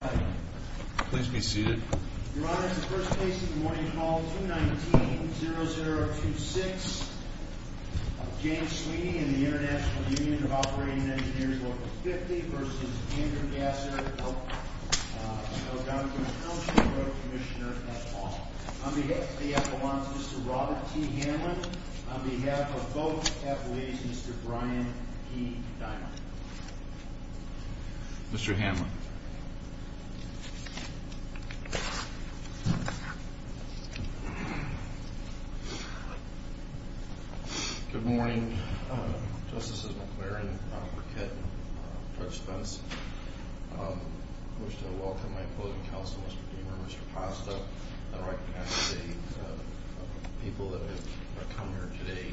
Please be seated. Your Honor, the first case of the morning, call 219-0026, James Sweeney and the International Union of Operating Engineers, Local 50, v. Andrew Gasser. On behalf of Mr. Robert T. Hanlon, on behalf of both attorneys, Mr. Brian P. Dimon. Mr. Hanlon. Mr. Gasser. Good morning. Justice McLaren, Robert Kitt, Judge Spence. I wish to welcome my opposing counsel, Mr. Deamer, Mr. Pasta, and recognize the people that have come here today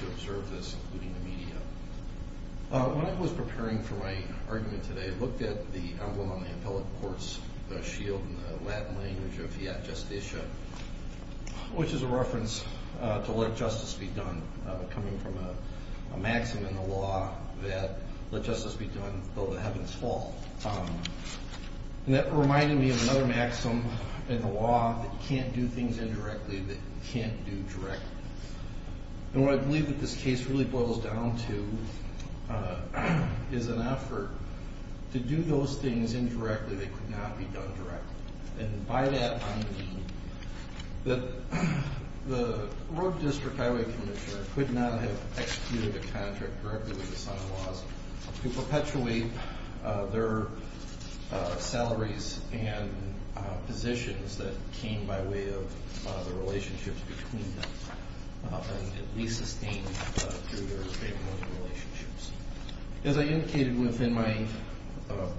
to observe this, including the media. When I was preparing for my argument today, I looked at the emblem on the appellate court's shield in the Latin language of via justicia, which is a reference to let justice be done, coming from a maxim in the law that, let justice be done, though the heavens fall. And that reminded me of another maxim in the law that you can't do things indirectly that you can't do directly. And what I believe that this case really boils down to is an effort to do those things indirectly that could not be done directly. And by that, I mean that the Road District Highway Commissioner could not have executed a contract directly with the Sun Laws to perpetuate their salaries and positions that came by way of the relationships between them and at least sustain through their state and local relationships. As I indicated within my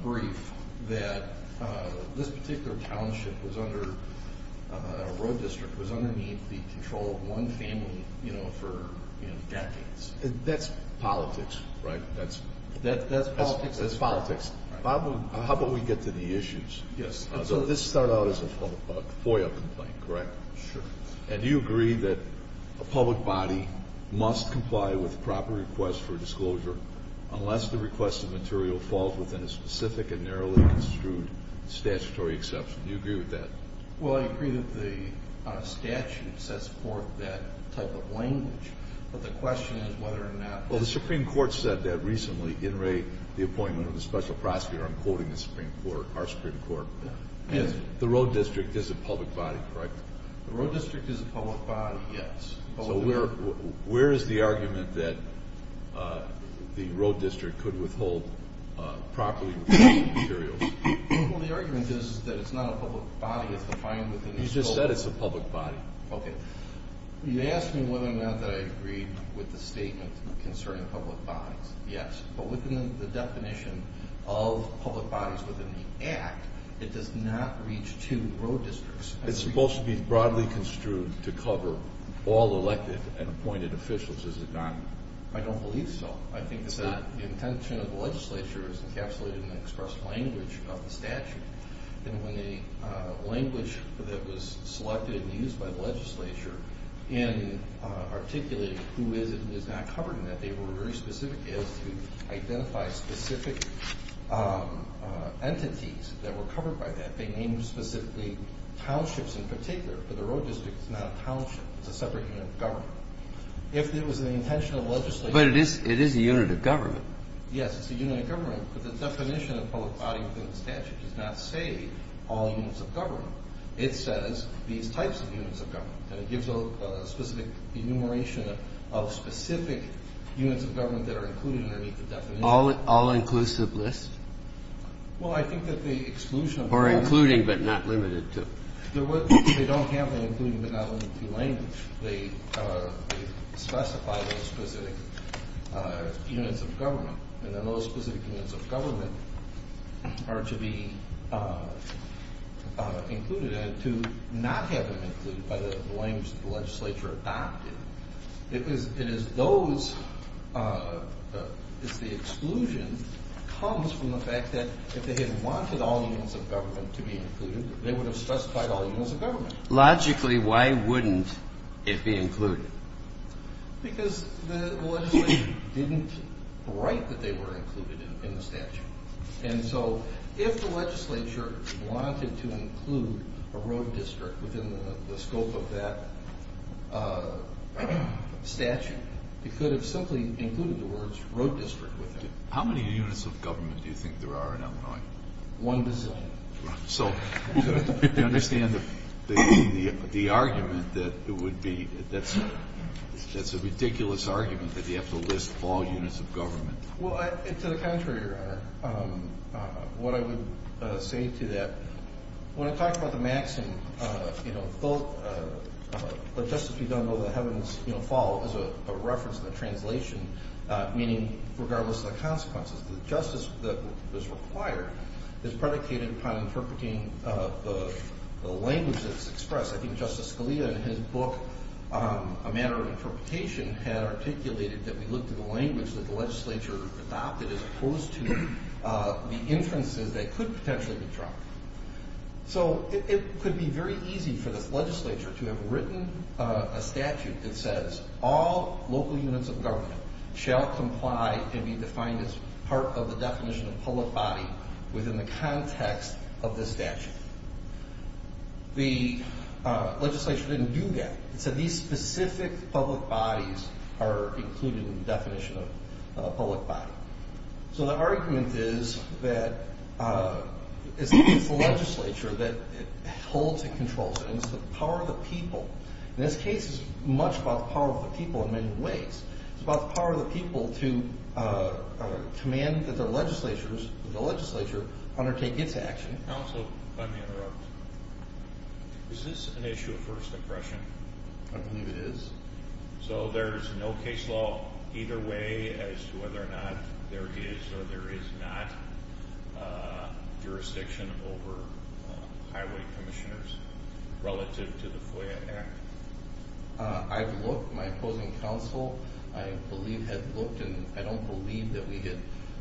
brief, that this particular township was under, Road District was underneath the control of one family for decades. That's politics, right? That's politics. Bob, how about we get to the issues? So this started out as a FOIA complaint, correct? Sure. And do you agree that a public body must comply with proper requests for disclosure unless the requested material falls within a specific and narrowly construed statutory exception? Do you agree with that? Well, I agree that the statute sets forth that type of language. But the question is whether or not... Well, the Supreme Court said that recently, in Ray, the appointment of a special prosecutor. I'm quoting the Supreme Court, our Supreme Court. Yes. The Road District is a public body, correct? The Road District is a public body, yes. So where is the argument that the Road District could withhold properly requested materials? Well, the argument is that it's not a public body. It's defined within this code. You just said it's a public body. Okay. You asked me whether or not that I agreed with the statement concerning public bodies. Yes. But within the definition of public bodies within the Act, it does not reach to the Road District. It's supposed to be broadly construed to cover all elected and appointed officials, is it not? I don't believe so. I think it's not. The intention of the legislature is encapsulated in the express language of the statute. And when the language that was selected and used by the legislature in articulating who is and is not covered in that, they were very specific as to identify specific entities that were covered by that. They named specifically townships in particular, but the Road District is not a township. It's a separate unit of government. If it was the intention of the legislature... But it is a unit of government. Yes, it's a unit of government, but the definition of public body within the statute does not say all units of government. It says these types of units of government, and it gives a specific enumeration of specific units of government that are included underneath the definition. All inclusive lists? Well, I think that the exclusion of... Or including but not limited to. They don't have the including but not limited to language. They specify those specific units of government, and then those specific units of government are to be included and to not have them included by the language the legislature adopted. It is those... It's the exclusion comes from the fact that if they had wanted all units of government to be included, they would have specified all units of government. Logically, why wouldn't it be included? Because the legislature didn't write that they were included in the statute. And so if the legislature wanted to include a Road District within the scope of that statute, it could have simply included the words Road District with it. How many units of government do you think there are in Illinois? One bazillion. So you understand the argument that it would be... That's a ridiculous argument that you have to list all units of government. To the contrary, Your Honor. What I would say to that, when I talk about the maxim, you know, what justice be done, though the heavens fall, is a reference to the translation meaning regardless of the consequences. The justice that is required is predicated upon interpreting the language that is expressed. I think Justice Scalia in his book, A Matter of Interpretation, had articulated that we looked at the language that the legislature adopted as opposed to the inferences that could potentially be dropped. So it could be very easy for this legislature to have written a statute that says all local units of government shall comply and be defined as part of the definition of public body within the context of this statute. The legislature didn't do that. It said these specific public bodies are included in the definition of public body. So the argument is that it's the legislature that holds and controls it, and it's the power of the people. In this case, it's much about the power of the people in many ways. It's about the power of the people to command that the legislature undertake its action. Counsel, if I may interrupt. Is this an issue of first impression? I believe it is. So there's no case law either way as to whether or not there is or there is not jurisdiction over highway commissioners relative to the FOIA Act? I've looked. My opposing counsel, I believe, had looked, and I don't believe that we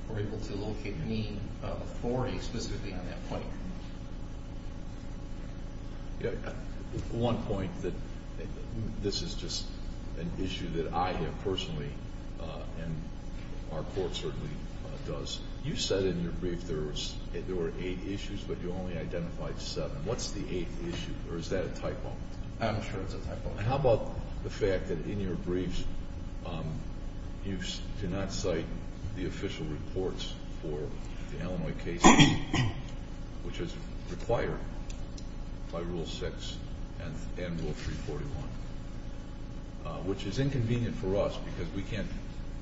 were able to locate any authority specifically on that point. One point that this is just an issue that I have personally, and our court certainly does. You said in your brief there were eight issues, but you only identified seven. What's the eighth issue, or is that a typo? I'm sure it's a typo. How about the fact that in your briefs you do not cite the official reports for the Illinois case, which is required by Rule 6 and Rule 341, which is inconvenient for us because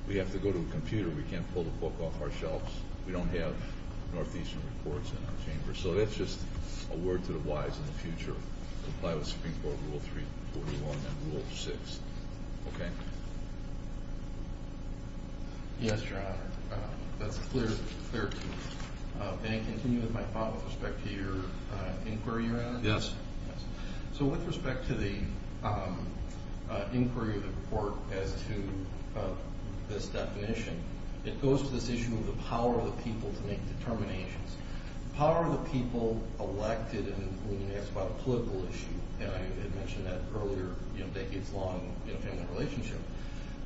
we have to go to a computer. We can't pull the book off our shelves. We don't have northeastern reports in our chambers. So that's just a word to the wise in the future. Comply with Supreme Court Rule 341 and Rule 6. Okay? Yes, Your Honor. That's clear to me. May I continue with my thought with respect to your inquiry, Your Honor? Yes. So with respect to the inquiry of the court as to this definition, it goes to this issue of the power of the people to make determinations. The power of the people elected, and when you ask about a political issue, and I had mentioned that earlier in a decades-long family relationship,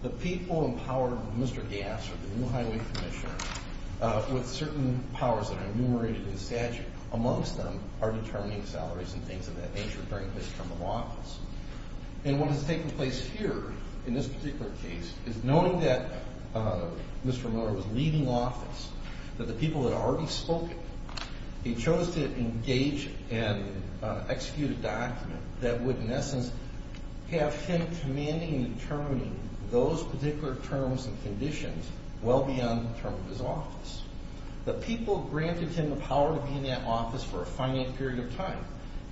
the people in power, Mr. Gass or the new highway commissioner, with certain powers that are enumerated in the statute, amongst them are determining salaries and things of that nature during his term of office. And what has taken place here in this particular case is knowing that Mr. Miller was leaving office, that the people had already spoken. He chose to engage and execute a document that would, in essence, have him commanding and determining those particular terms and conditions well beyond the term of his office. The people granted him the power to be in that office for a finite period of time.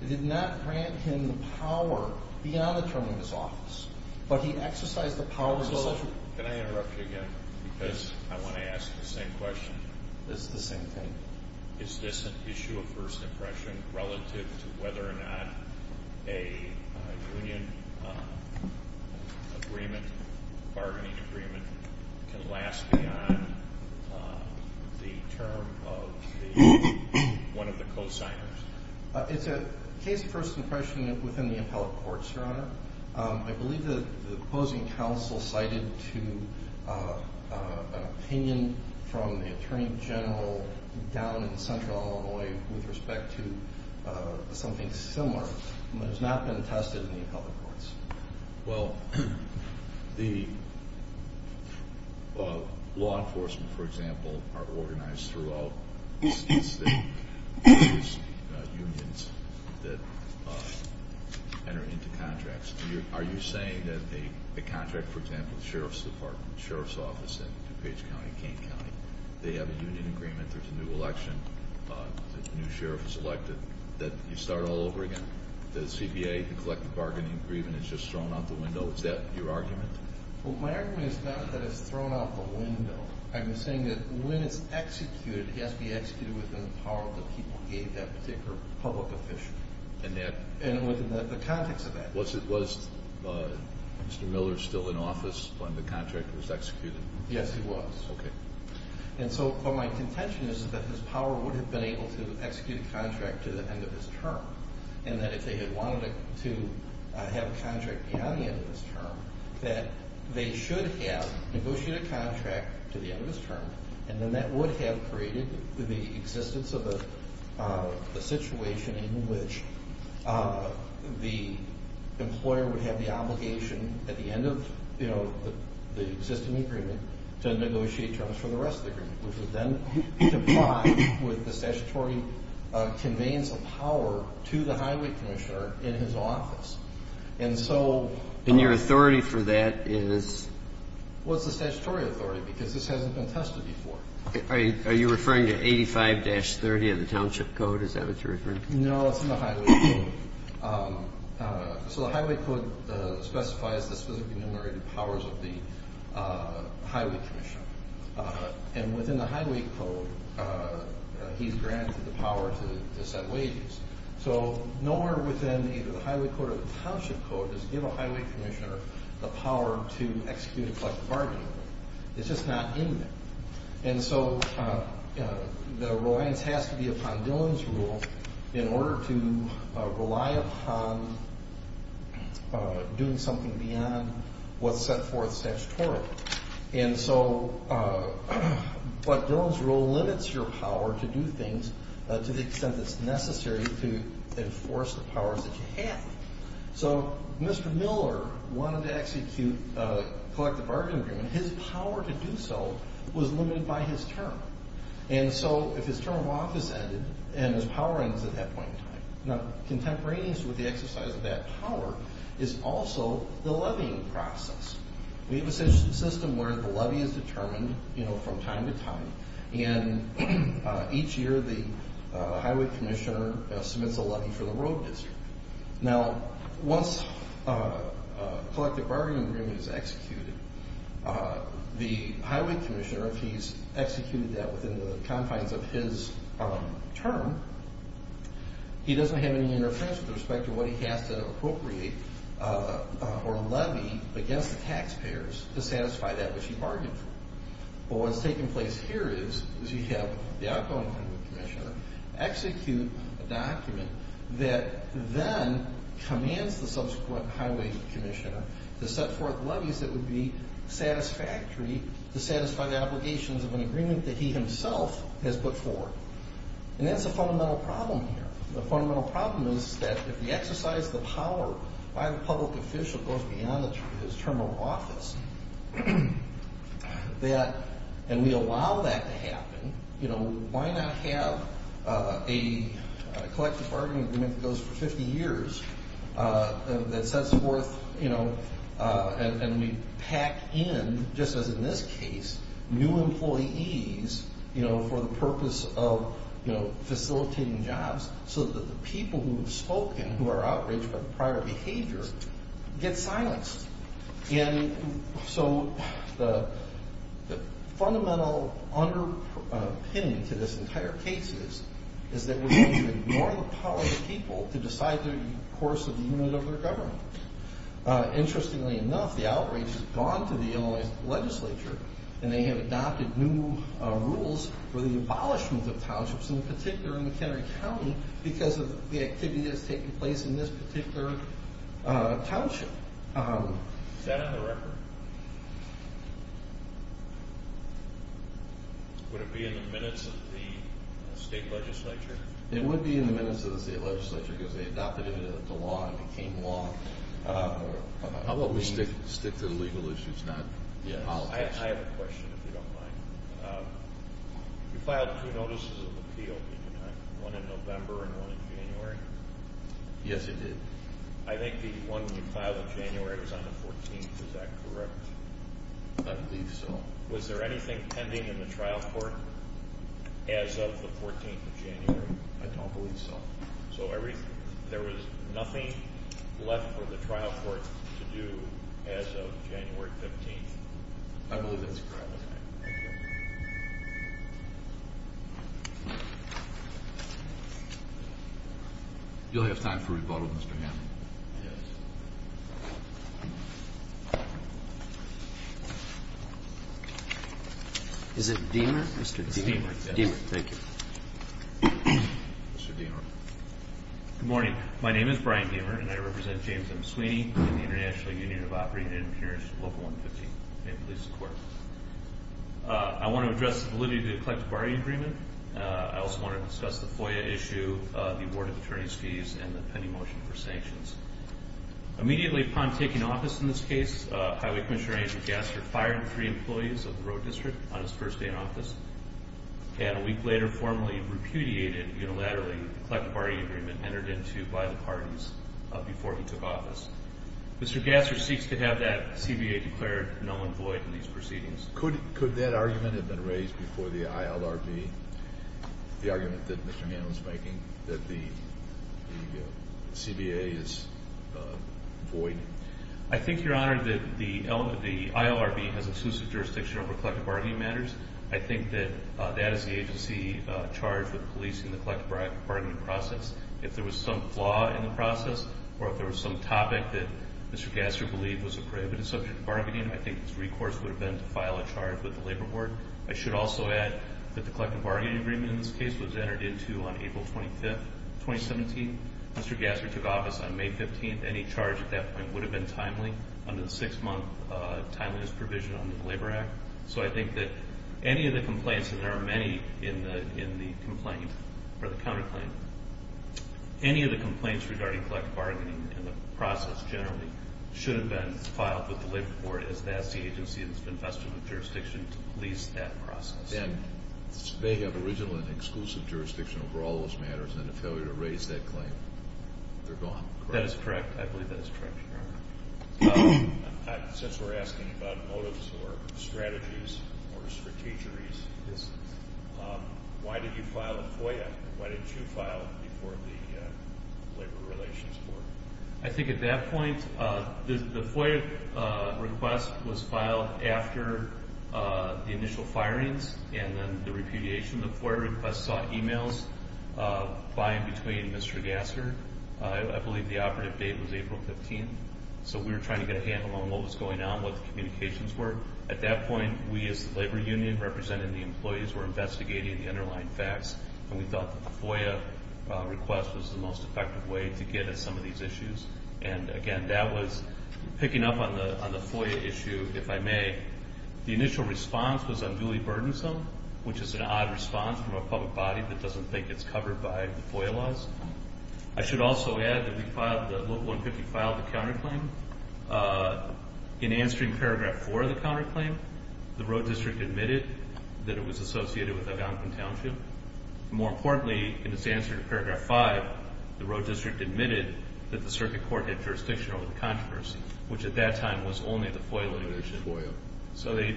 They did not grant him the power beyond the term of his office, but he exercised the power of decision. Can I interrupt you again? Yes. Because I want to ask the same question. It's the same thing. Is this an issue of first impression relative to whether or not a union agreement, bargaining agreement, can last beyond the term of one of the cosigners? It's a case of first impression within the appellate courts, Your Honor. I believe the opposing counsel cited an opinion from the attorney general down in central Illinois with respect to something similar, but it has not been tested in the appellate courts. Well, the law enforcement, for example, throughout states that use unions that enter into contracts. Are you saying that a contract, for example, the Sheriff's Department, Sheriff's Office in DuPage County, Kane County, they have a union agreement, there's a new election, a new sheriff is elected, that you start all over again? The CPA, the collective bargaining agreement is just thrown out the window. Is that your argument? Well, my argument is not that it's thrown out the window. I'm saying that when it's executed, it has to be executed within the power that people gave that particular public official. And within the context of that. Was Mr. Miller still in office when the contract was executed? Yes, he was. Okay. And so my contention is that his power would have been able to execute a contract to the end of his term, and that if they had wanted to have a contract beyond the end of his term, that they should have negotiated a contract to the end of his term, and then that would have created the existence of a situation in which the employer would have the obligation at the end of the existing agreement to negotiate terms for the rest of the agreement, which would then comply with the statutory conveyance of power to the highway commissioner in his office. And your authority for that is? Well, it's the statutory authority because this hasn't been tested before. Are you referring to 85-30 of the Township Code? Is that what you're referring to? No, it's in the Highway Code. So the Highway Code specifies the specific enumerated powers of the highway commissioner. And within the Highway Code, he's granted the power to set wages. So nowhere within either the Highway Code or the Township Code does give a highway commissioner the power to execute a collective bargaining agreement. It's just not in there. And so the reliance has to be upon Dillon's Rule in order to rely upon doing something beyond what's set forth statutorily. And so what Dillon's Rule limits your power to do things to the extent that's necessary to enforce the powers that you have. So Mr. Miller wanted to execute a collective bargaining agreement. His power to do so was limited by his term. And so if his term of office ended and his power ends at that point in time, contemporaneous with the exercise of that power is also the levying process. We have a system where the levy is determined from time to time, and each year the highway commissioner submits a levy for the road district. Now, once a collective bargaining agreement is executed, the highway commissioner, if he's executed that within the confines of his term, he doesn't have any interference with respect to what he has to appropriate or levy against the taxpayers to satisfy that which he bargained for. But what's taking place here is you have the outgoing highway commissioner execute a document that then commands the subsequent highway commissioner to set forth levies that would be satisfactory to satisfy the obligations of an agreement that he himself has put forward. And that's a fundamental problem here. The fundamental problem is that if the exercise of the power by the public official goes beyond his term of office, and we allow that to happen, you know, why not have a collective bargaining agreement that goes for 50 years that sets forth, you know, and we pack in, just as in this case, new employees, you know, for the purpose of, you know, facilitating jobs so that the people who have spoken who are outraged by the prior behavior get silenced. And so the fundamental underpinning to this entire case is that we need to ignore the power of the people to decide the course of the unit of their government. Interestingly enough, the outrage has gone to the Illinois legislature, and they have adopted new rules for the abolishment of townships, in particular in McHenry County, because of the activity that's taking place in this particular township. Is that on the record? Would it be in the minutes of the state legislature? It would be in the minutes of the state legislature, because they adopted it into law and it became law. Let me stick to the legal issues, not the politics. I have a question, if you don't mind. You filed two notices of appeal, didn't you not? One in November and one in January? Yes, I did. I think the one you filed in January was on the 14th. Is that correct? I believe so. Was there anything pending in the trial court as of the 14th of January? I don't believe so. So there was nothing left for the trial court to do as of January 15th? I believe that's correct. Thank you. You'll have time for rebuttal, Mr. Hammond. Yes. Is it Deamer? Mr. Deamer. Deamer, yes. Deamer, thank you. Mr. Deamer. Good morning. My name is Brian Deamer and I represent James M. Sweeney in the International Union of Operating Engineers, Local 115. I want to address the validity of the collective bargaining agreement. I also want to discuss the FOIA issue, the award of attorney's fees, and the pending motion for sanctions. Immediately upon taking office in this case, Highway Commissioner Agent Gassert fired three employees of the road district on his first day in office, and a week later formally repudiated unilaterally the collective bargaining agreement entered into by the parties before he took office. Mr. Gassert seeks to have that CBA declared null and void in these proceedings. Could that argument have been raised before the ILRB, the argument that Mr. Hammond is making, that the CBA is void? I think, Your Honor, that the ILRB has exclusive jurisdiction over collective bargaining matters. I think that that is the agency charged with policing the collective bargaining process. If there was some flaw in the process or if there was some topic that Mr. Gassert believed was a prejudice subject to bargaining, I think his recourse would have been to file a charge with the Labor Board. I should also add that the collective bargaining agreement in this case was entered into on April 25, 2017. Mr. Gassert took office on May 15. Any charge at that point would have been timely under the six-month timeliness provision under the Labor Act. So I think that any of the complaints, and there are many in the complaint or the counterclaim, any of the complaints regarding collective bargaining and the process generally should have been filed with the Labor Board as that's the agency that's been vested with jurisdiction to police that process. And they have original and exclusive jurisdiction over all those matters, and the failure to raise that claim, they're gone, correct? That is correct. I believe that is correct, Your Honor. Since we're asking about motives or strategies or strategeries, why did you file a FOIA? Why didn't you file before the Labor Relations Board? I think at that point the FOIA request was filed after the initial firings and then the repudiation. The FOIA request saw emails by and between Mr. Gassert. I believe the operative date was April 15, so we were trying to get a handle on what was going on, what the communications were. At that point, we as the labor union representing the employees were investigating the underlying facts, and we thought that the FOIA request was the most effective way to get at some of these issues. And again, that was picking up on the FOIA issue, if I may. The initial response was unduly burdensome, which is an odd response from a public body that doesn't think it's covered by the FOIA laws. I should also add that the Local 150 filed a counterclaim. In answering Paragraph 4 of the counterclaim, the Road District admitted that it was associated with Algonquin Township. More importantly, in its answer to Paragraph 5, the Road District admitted that the circuit court had jurisdiction over the controversy, which at that time was only the FOIA litigation. So they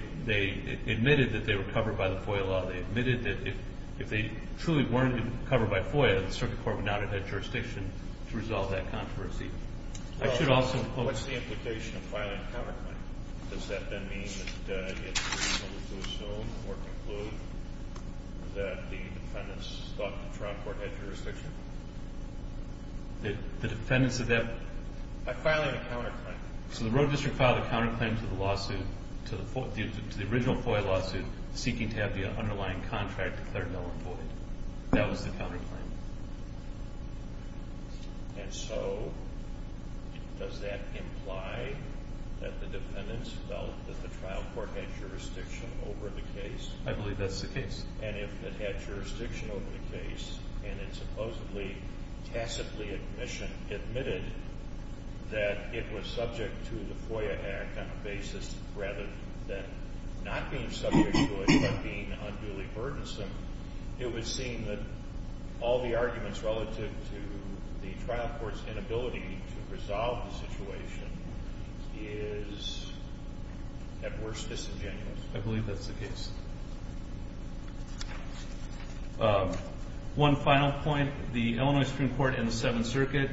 admitted that they were covered by the FOIA law. They admitted that if they truly weren't covered by FOIA, the circuit court would not have had jurisdiction to resolve that controversy. I should also quote— Well, what's the implication of filing a counterclaim? Does that then mean that it will go soon or conclude that the defendants thought the trial court had jurisdiction? The defendants of that— By filing a counterclaim. So the Road District filed a counterclaim to the lawsuit, to the original FOIA lawsuit, seeking to have the underlying contract declared null and void. That was the counterclaim. And so does that imply that the defendants felt that the trial court had jurisdiction over the case? I believe that's the case. And if it had jurisdiction over the case and it supposedly tacitly admitted that it was subject to the FOIA Act on a basis rather than not being subject to it but being unduly burdensome, it would seem that all the arguments relative to the trial court's inability to resolve the situation is, at worst, disingenuous. I believe that's the case. One final point. The Illinois Supreme Court and the Seventh Circuit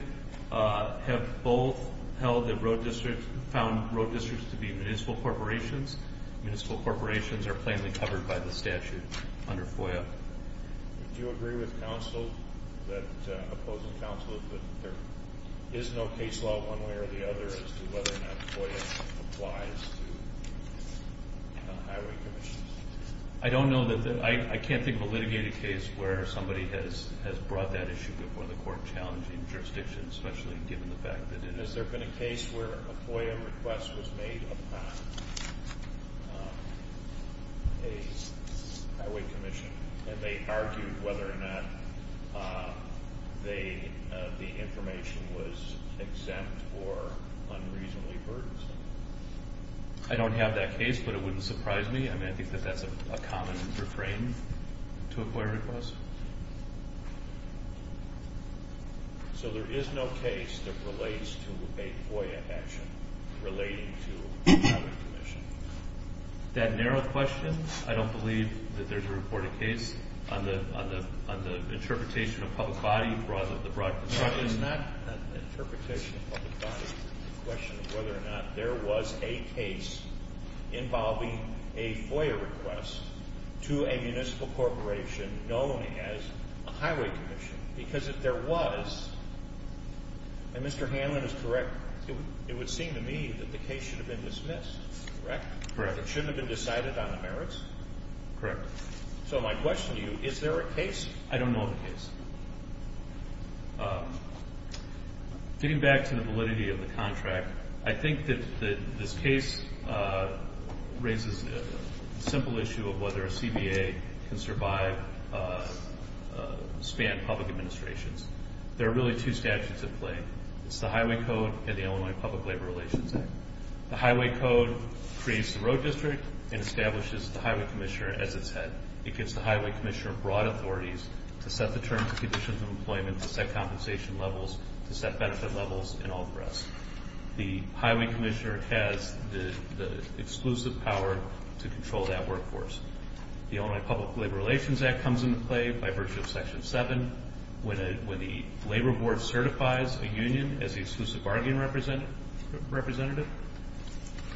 have both held that Road District—found Road Districts to be municipal corporations. Municipal corporations are plainly covered by the statute under FOIA. Do you agree with counsel that—opposing counsel that there is no case law one way or the other as to whether or not FOIA applies to highway commissions? I don't know that—I can't think of a litigated case where somebody has brought that issue before the court challenging jurisdiction, especially given the fact that it is. And has there been a case where a FOIA request was made upon a highway commission and they argued whether or not the information was exempt or unreasonably burdensome? I don't have that case, but it wouldn't surprise me. I mean, I think that that's a common refrain to a FOIA request. So there is no case that relates to a FOIA action relating to a highway commission? That narrow question? I don't believe that there's a reported case on the interpretation of public body rather than the broad question. It is not an interpretation of public body. It's a question of whether or not there was a case involving a FOIA request to a municipal corporation known as a highway commission. Because if there was—and Mr. Hanlon is correct—it would seem to me that the case should have been dismissed, correct? Correct. It shouldn't have been decided on the merits? Correct. So my question to you, is there a case? I don't know of a case. Getting back to the validity of the contract, I think that this case raises a simple issue of whether a CBA can survive—span public administrations. There are really two statutes at play. It's the Highway Code and the Illinois Public Labor Relations Act. The Highway Code creates the road district and establishes the highway commissioner as its head. It gives the highway commissioner broad authorities to set the terms and conditions of employment, to set compensation levels, to set benefit levels, and all the rest. The highway commissioner has the exclusive power to control that workforce. The Illinois Public Labor Relations Act comes into play by virtue of Section 7. When the labor board certifies a union as the exclusive bargaining representative,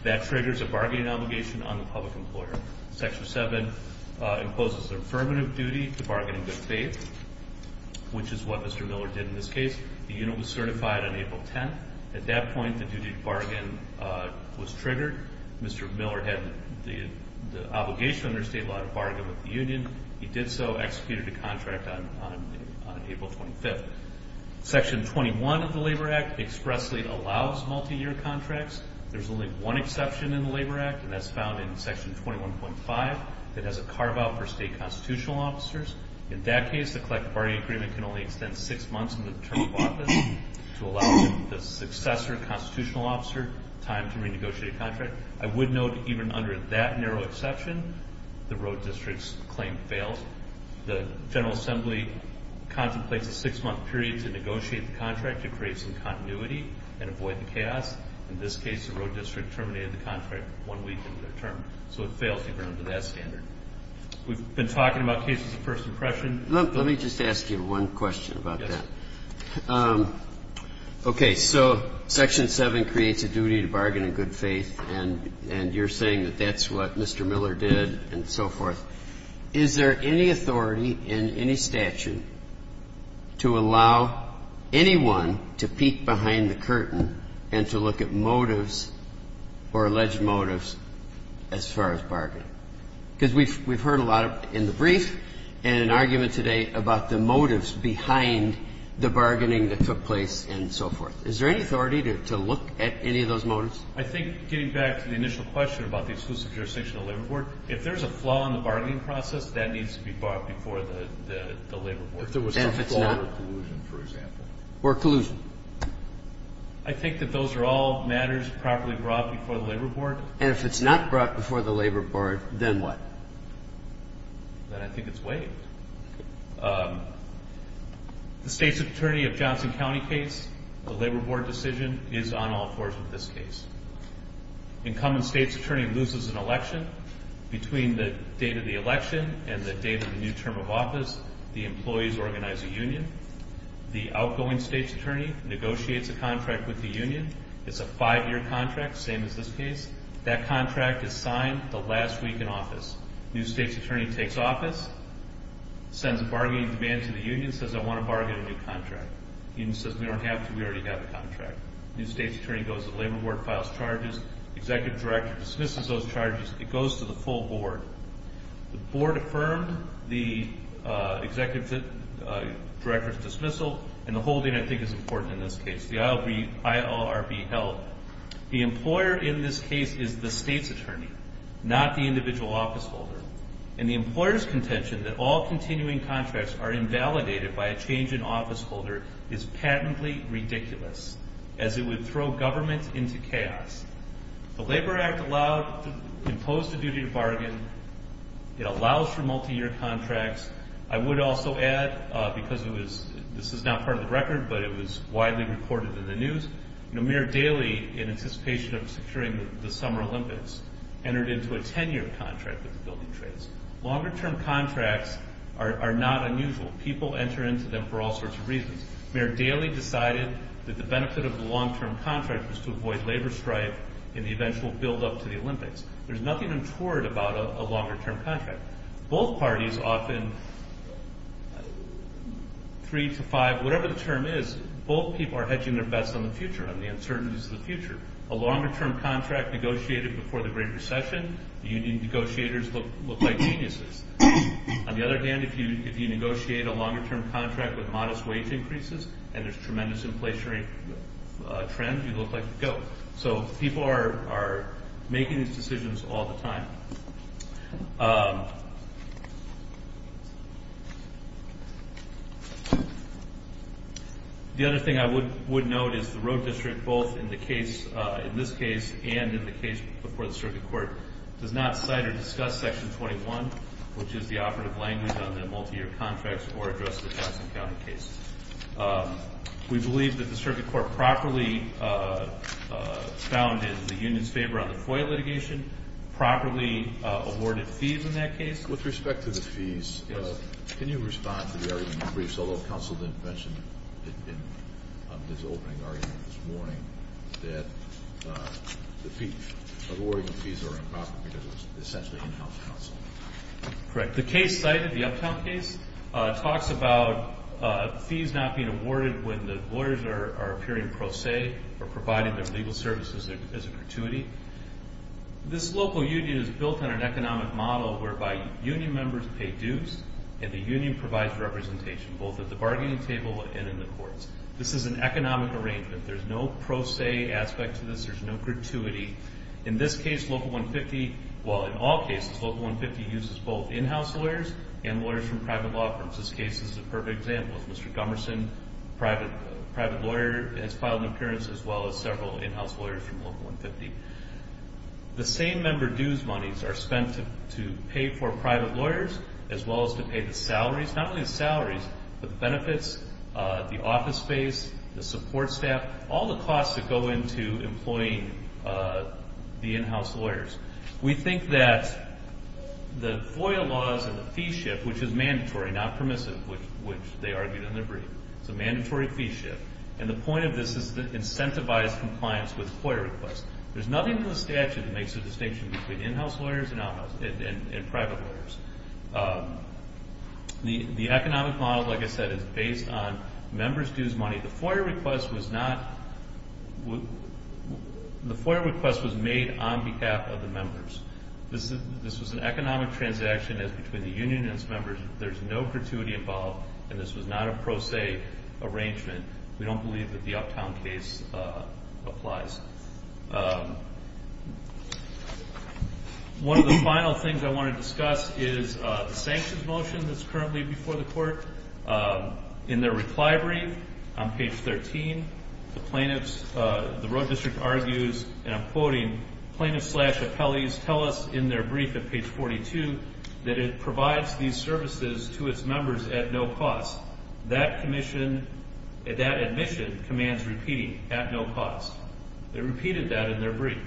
that triggers a bargaining obligation on the public employer. Section 7 imposes the affirmative duty to bargain in good faith, which is what Mr. Miller did in this case. The union was certified on April 10th. At that point, the duty to bargain was triggered. Mr. Miller had the obligation under state law to bargain with the union. He did so, executed a contract on April 25th. Section 21 of the Labor Act expressly allows multi-year contracts. There's only one exception in the Labor Act, and that's found in Section 21.5. It has a carve-out for state constitutional officers. In that case, the collective bargaining agreement can only extend six months into the term of office to allow the successor constitutional officer time to renegotiate a contract. I would note, even under that narrow exception, the road district's claim fails. The General Assembly contemplates a six-month period to negotiate the contract to create some continuity and avoid the chaos. In this case, the road district terminated the contract one week into their term. So it fails even under that standard. We've been talking about cases of first impression. Let me just ask you one question about that. Yes. Okay. So Section 7 creates a duty to bargain in good faith, and you're saying that that's what Mr. Miller did and so forth. Is there any authority in any statute to allow anyone to peek behind the curtain and to look at motives or alleged motives as far as bargaining? Because we've heard a lot in the brief and in argument today about the motives behind the bargaining that took place and so forth. Is there any authority to look at any of those motives? I think, getting back to the initial question about the exclusive jurisdiction of the labor board, if there's a flaw in the bargaining process, that needs to be brought before the labor board. If there was some flaw or collusion, for example. Or collusion. I think that those are all matters properly brought before the labor board. And if it's not brought before the labor board, then what? Then I think it's waived. The state's attorney of Johnson County case, the labor board decision, is on all fours in this case. Incumbent state's attorney loses an election. Between the date of the election and the date of the new term of office, the employees organize a union. The outgoing state's attorney negotiates a contract with the union. It's a five-year contract, same as this case. That contract is signed the last week in office. New state's attorney takes office, sends a bargaining demand to the union, says, I want to bargain a new contract. Union says, we don't have to. We already have a contract. New state's attorney goes to the labor board, files charges. Executive director dismisses those charges. It goes to the full board. The board affirmed the executive director's dismissal, and the holding, I think, is important in this case. The ILRB held. The employer in this case is the state's attorney, not the individual office holder. And the employer's contention that all continuing contracts are invalidated by a change in office holder is patently ridiculous, as it would throw government into chaos. The Labor Act allowed to impose the duty to bargain. It allows for multi-year contracts. I would also add, because this is not part of the record, but it was widely reported in the news, Mayor Daley, in anticipation of securing the summer Olympics, entered into a 10-year contract with the building trades. Longer-term contracts are not unusual. People enter into them for all sorts of reasons. Mayor Daley decided that the benefit of the long-term contract was to avoid labor strife and the eventual buildup to the Olympics. There's nothing untoward about a longer-term contract. Both parties often, three to five, whatever the term is, both people are hedging their bets on the future, on the uncertainties of the future. A longer-term contract negotiated before the Great Recession, the union negotiators look like geniuses. On the other hand, if you negotiate a longer-term contract with modest wage increases, and there's tremendous inflationary trend, you look like a goat. So people are making these decisions all the time. The other thing I would note is the road district, both in this case and in the case before the circuit court, does not cite or discuss Section 21, which is the operative language on the multi-year contracts, or address the Jackson County case. We believe that the circuit court properly founded the union's favor on the FOIA litigation, properly awarded fees in that case. With respect to the fees, can you respond to the argument you briefed, although counsel didn't mention it in his opening argument this morning, that the awarding of fees are improper because it was essentially in-house counsel? Correct. The case cited, the uptown case, talks about fees not being awarded when the lawyers are appearing pro se or providing their legal services as a gratuity. This local union is built on an economic model whereby union members pay dues, and the union provides representation, both at the bargaining table and in the courts. This is an economic arrangement. There's no pro se aspect to this. There's no gratuity. In this case, Local 150, well, in all cases, Local 150 uses both in-house lawyers and lawyers from private law firms. This case is a perfect example of Mr. Gummerson, a private lawyer, has filed an appearance, as well as several in-house lawyers from Local 150. The same member dues monies are spent to pay for private lawyers, as well as to pay the salaries, not only the salaries, but the benefits, the office space, the support staff, all the costs that go into employing the in-house lawyers. We think that the FOIA laws and the fee shift, which is mandatory, not permissive, which they argued in their brief, it's a mandatory fee shift, and the point of this is to incentivize compliance with FOIA requests. There's nothing in the statute that makes a distinction between in-house lawyers and private lawyers. The economic model, like I said, is based on members' dues money. The FOIA request was made on behalf of the members. This was an economic transaction between the union and its members. There's no gratuity involved, and this was not a pro se arrangement. We don't believe that the Uptown case applies. One of the final things I want to discuss is the sanctions motion that's currently before the court. In their reply brief on page 13, the plaintiffs, the Road District argues, and I'm quoting, plaintiffs slash appellees tell us in their brief at page 42 that it provides these services to its members at no cost. That admission commands repeating at no cost. They repeated that in their brief.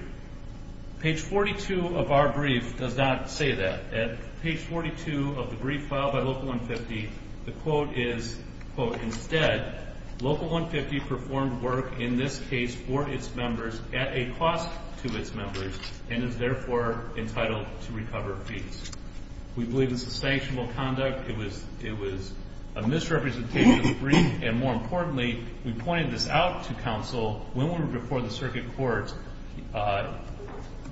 Page 42 of our brief does not say that. At page 42 of the brief filed by Local 150, the quote is, quote, instead, Local 150 performed work in this case for its members at a cost to its members and is therefore entitled to recover fees. We believe this is sanctionable conduct. It was a misrepresentation of the brief, and more importantly, we pointed this out to counsel when we were before the circuit court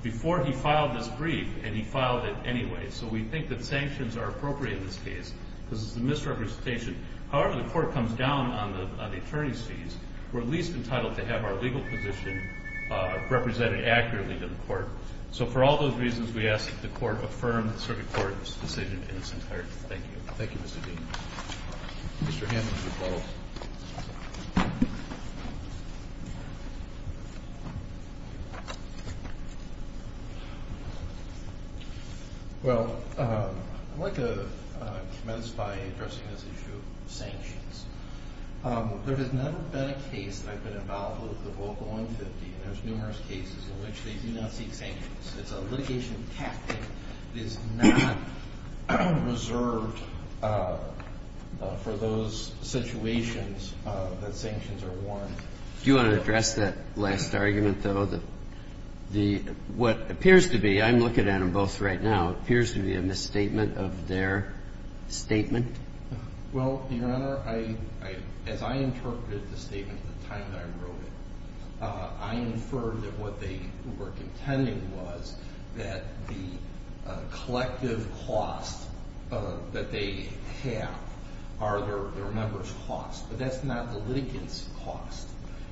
before he filed this brief, and he filed it anyway. So we think that sanctions are appropriate in this case because it's a misrepresentation. However, the court comes down on the attorney's fees. We're at least entitled to have our legal position represented accurately to the court. So for all those reasons, we ask that the court affirm the circuit court's decision in its entirety. Thank you. Thank you, Mr. Dean. Mr. Hammond, please follow up. Well, I'd like to commence by addressing this issue of sanctions. There has never been a case that I've been involved with the Local 150, and there's numerous cases in which they do not seek sanctions. It's a litigation tactic that is not reserved for those situations that sanctions are warned. Do you want to address that last argument, though, that what appears to be, I'm looking at them both right now, appears to be a misstatement of their statement? Well, Your Honor, as I interpreted the statement at the time that I wrote it, I inferred that what they were contending was that the collective cost that they have are their members' costs. But that's not the litigants' cost.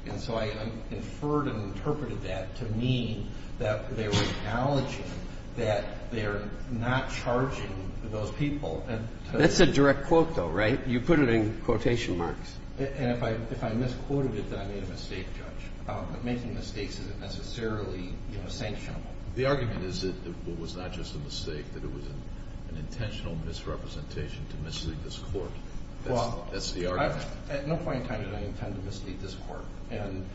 And so I inferred and interpreted that to mean that they were acknowledging that they are not charging those people. That's a direct quote, though, right? You put it in quotation marks. And if I misquoted it, then I made a mistake, Judge. Making mistakes isn't necessarily sanctionable. The argument is that it was not just a mistake, that it was an intentional misrepresentation to mislead this Court. That's the argument. Well, at no point in time did I intend to mislead this Court. And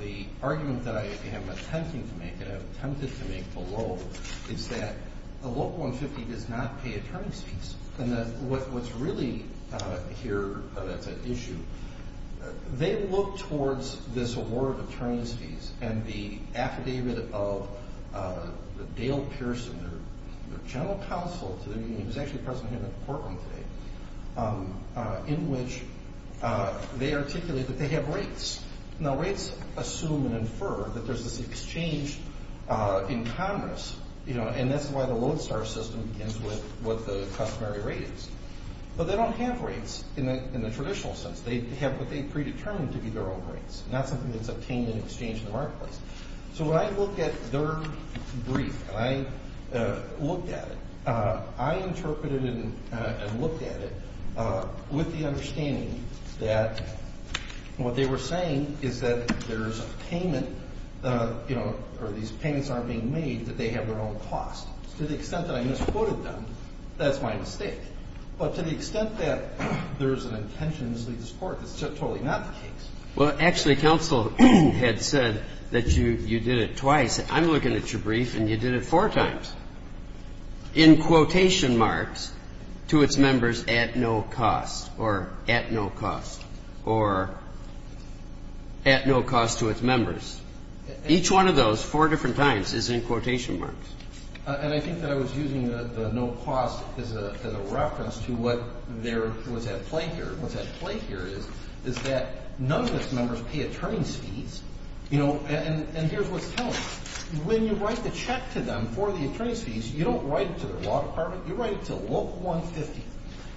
the argument that I am attempting to make, and I've attempted to make below, is that the Local 150 does not pay attorney's fees. And what's really here that's at issue, they look towards this award of attorney's fees and the affidavit of Dale Pearson, their general counsel to the meeting, he was actually present here in Portland today, in which they articulate that they have rates. Now, rates assume and infer that there's this exchange in Congress. You know, and that's why the Lodestar system begins with what the customary rate is. But they don't have rates in the traditional sense. They have what they predetermined to be their own rates, not something that's obtained in exchange in the marketplace. So when I looked at their brief and I looked at it, I interpreted it and looked at it with the understanding that And what they were saying is that there's a payment, you know, or these payments aren't being made, that they have their own cost. To the extent that I misquoted them, that's my mistake. But to the extent that there's an intention to mislead this Court, that's totally not the case. Well, actually, counsel had said that you did it twice. I'm looking at your brief and you did it four times in quotation marks to its members at no cost or at no cost or at no cost to its members. Each one of those four different times is in quotation marks. And I think that I was using the no cost as a reference to what there was at play here. is that none of its members pay attorney's fees. You know, and here's what's telling me. When you write the check to them for the attorney's fees, you don't write it to their law department. You write it to a local 150.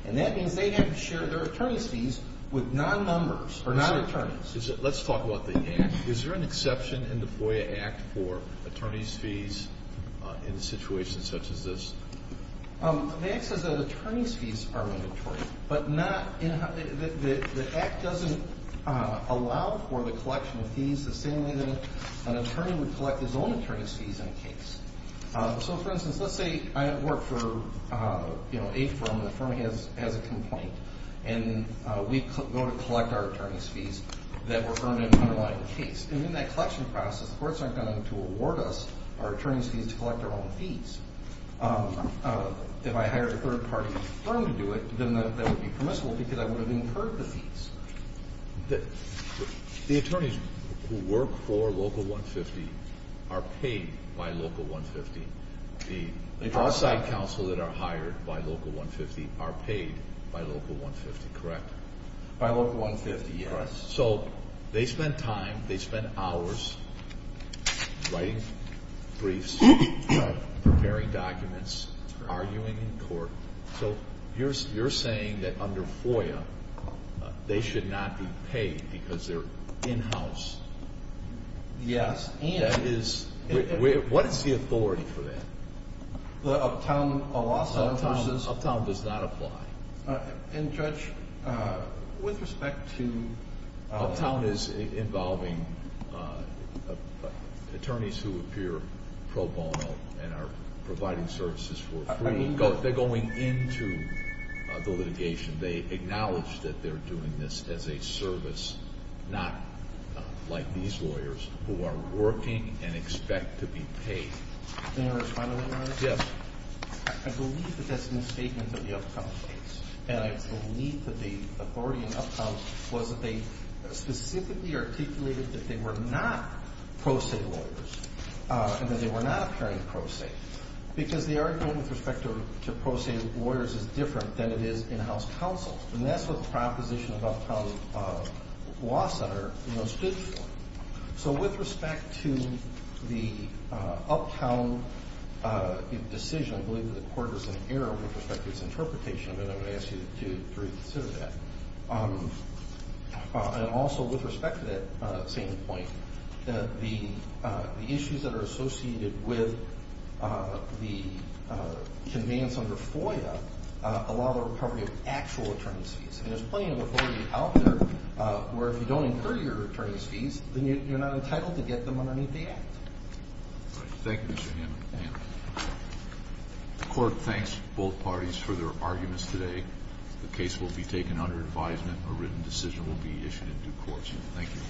And that means they have to share their attorney's fees with non-numbers or non-attorneys. Let's talk about the Act. Is there an exception in the FOIA Act for attorney's fees in a situation such as this? The Act says that attorney's fees are mandatory. But the Act doesn't allow for the collection of fees the same way that an attorney would collect his own attorney's fees in a case. So, for instance, let's say I work for a firm and the firm has a complaint. And we go to collect our attorney's fees that were earned in an underlying case. And in that collection process, the courts aren't going to award us our attorney's fees to collect our own fees. If I hired a third party firm to do it, then that would be permissible because I would have incurred the fees. The attorneys who work for local 150 are paid by local 150. The outside counsel that are hired by local 150 are paid by local 150, correct? By local 150, yes. So, they spend time, they spend hours writing briefs, preparing documents, arguing in court. So, you're saying that under FOIA, they should not be paid because they're in-house? Yes. And what is the authority for that? Uptown does not apply. And, Judge, with respect to- Uptown is involving attorneys who appear pro bono and are providing services for free. They're going into the litigation. They acknowledge that they're doing this as a service, not like these lawyers who are working and expect to be paid. Can I respond to that, Your Honor? Yes. I believe that that's a misstatement of the Uptown case. And I believe that the authority in Uptown was that they specifically articulated that they were not pro se lawyers. And that they were not appearing pro se. Because the argument with respect to pro se lawyers is different than it is in-house counsel. And that's what the proposition of Uptown Law Center was good for. So, with respect to the Uptown decision, I believe that the court is in error with respect to its interpretation of it. I'm going to ask you to reconsider that. And also, with respect to that same point, the issues that are associated with the demands under FOIA allow the recovery of actual attorney's fees. And there's plenty of authority out there where if you don't incur your attorney's fees, then you're not entitled to get them underneath the act. Thank you, Mr. Hammond. The court thanks both parties for their arguments today. The case will be taken under advisement. A written decision will be issued in due course. Thank you.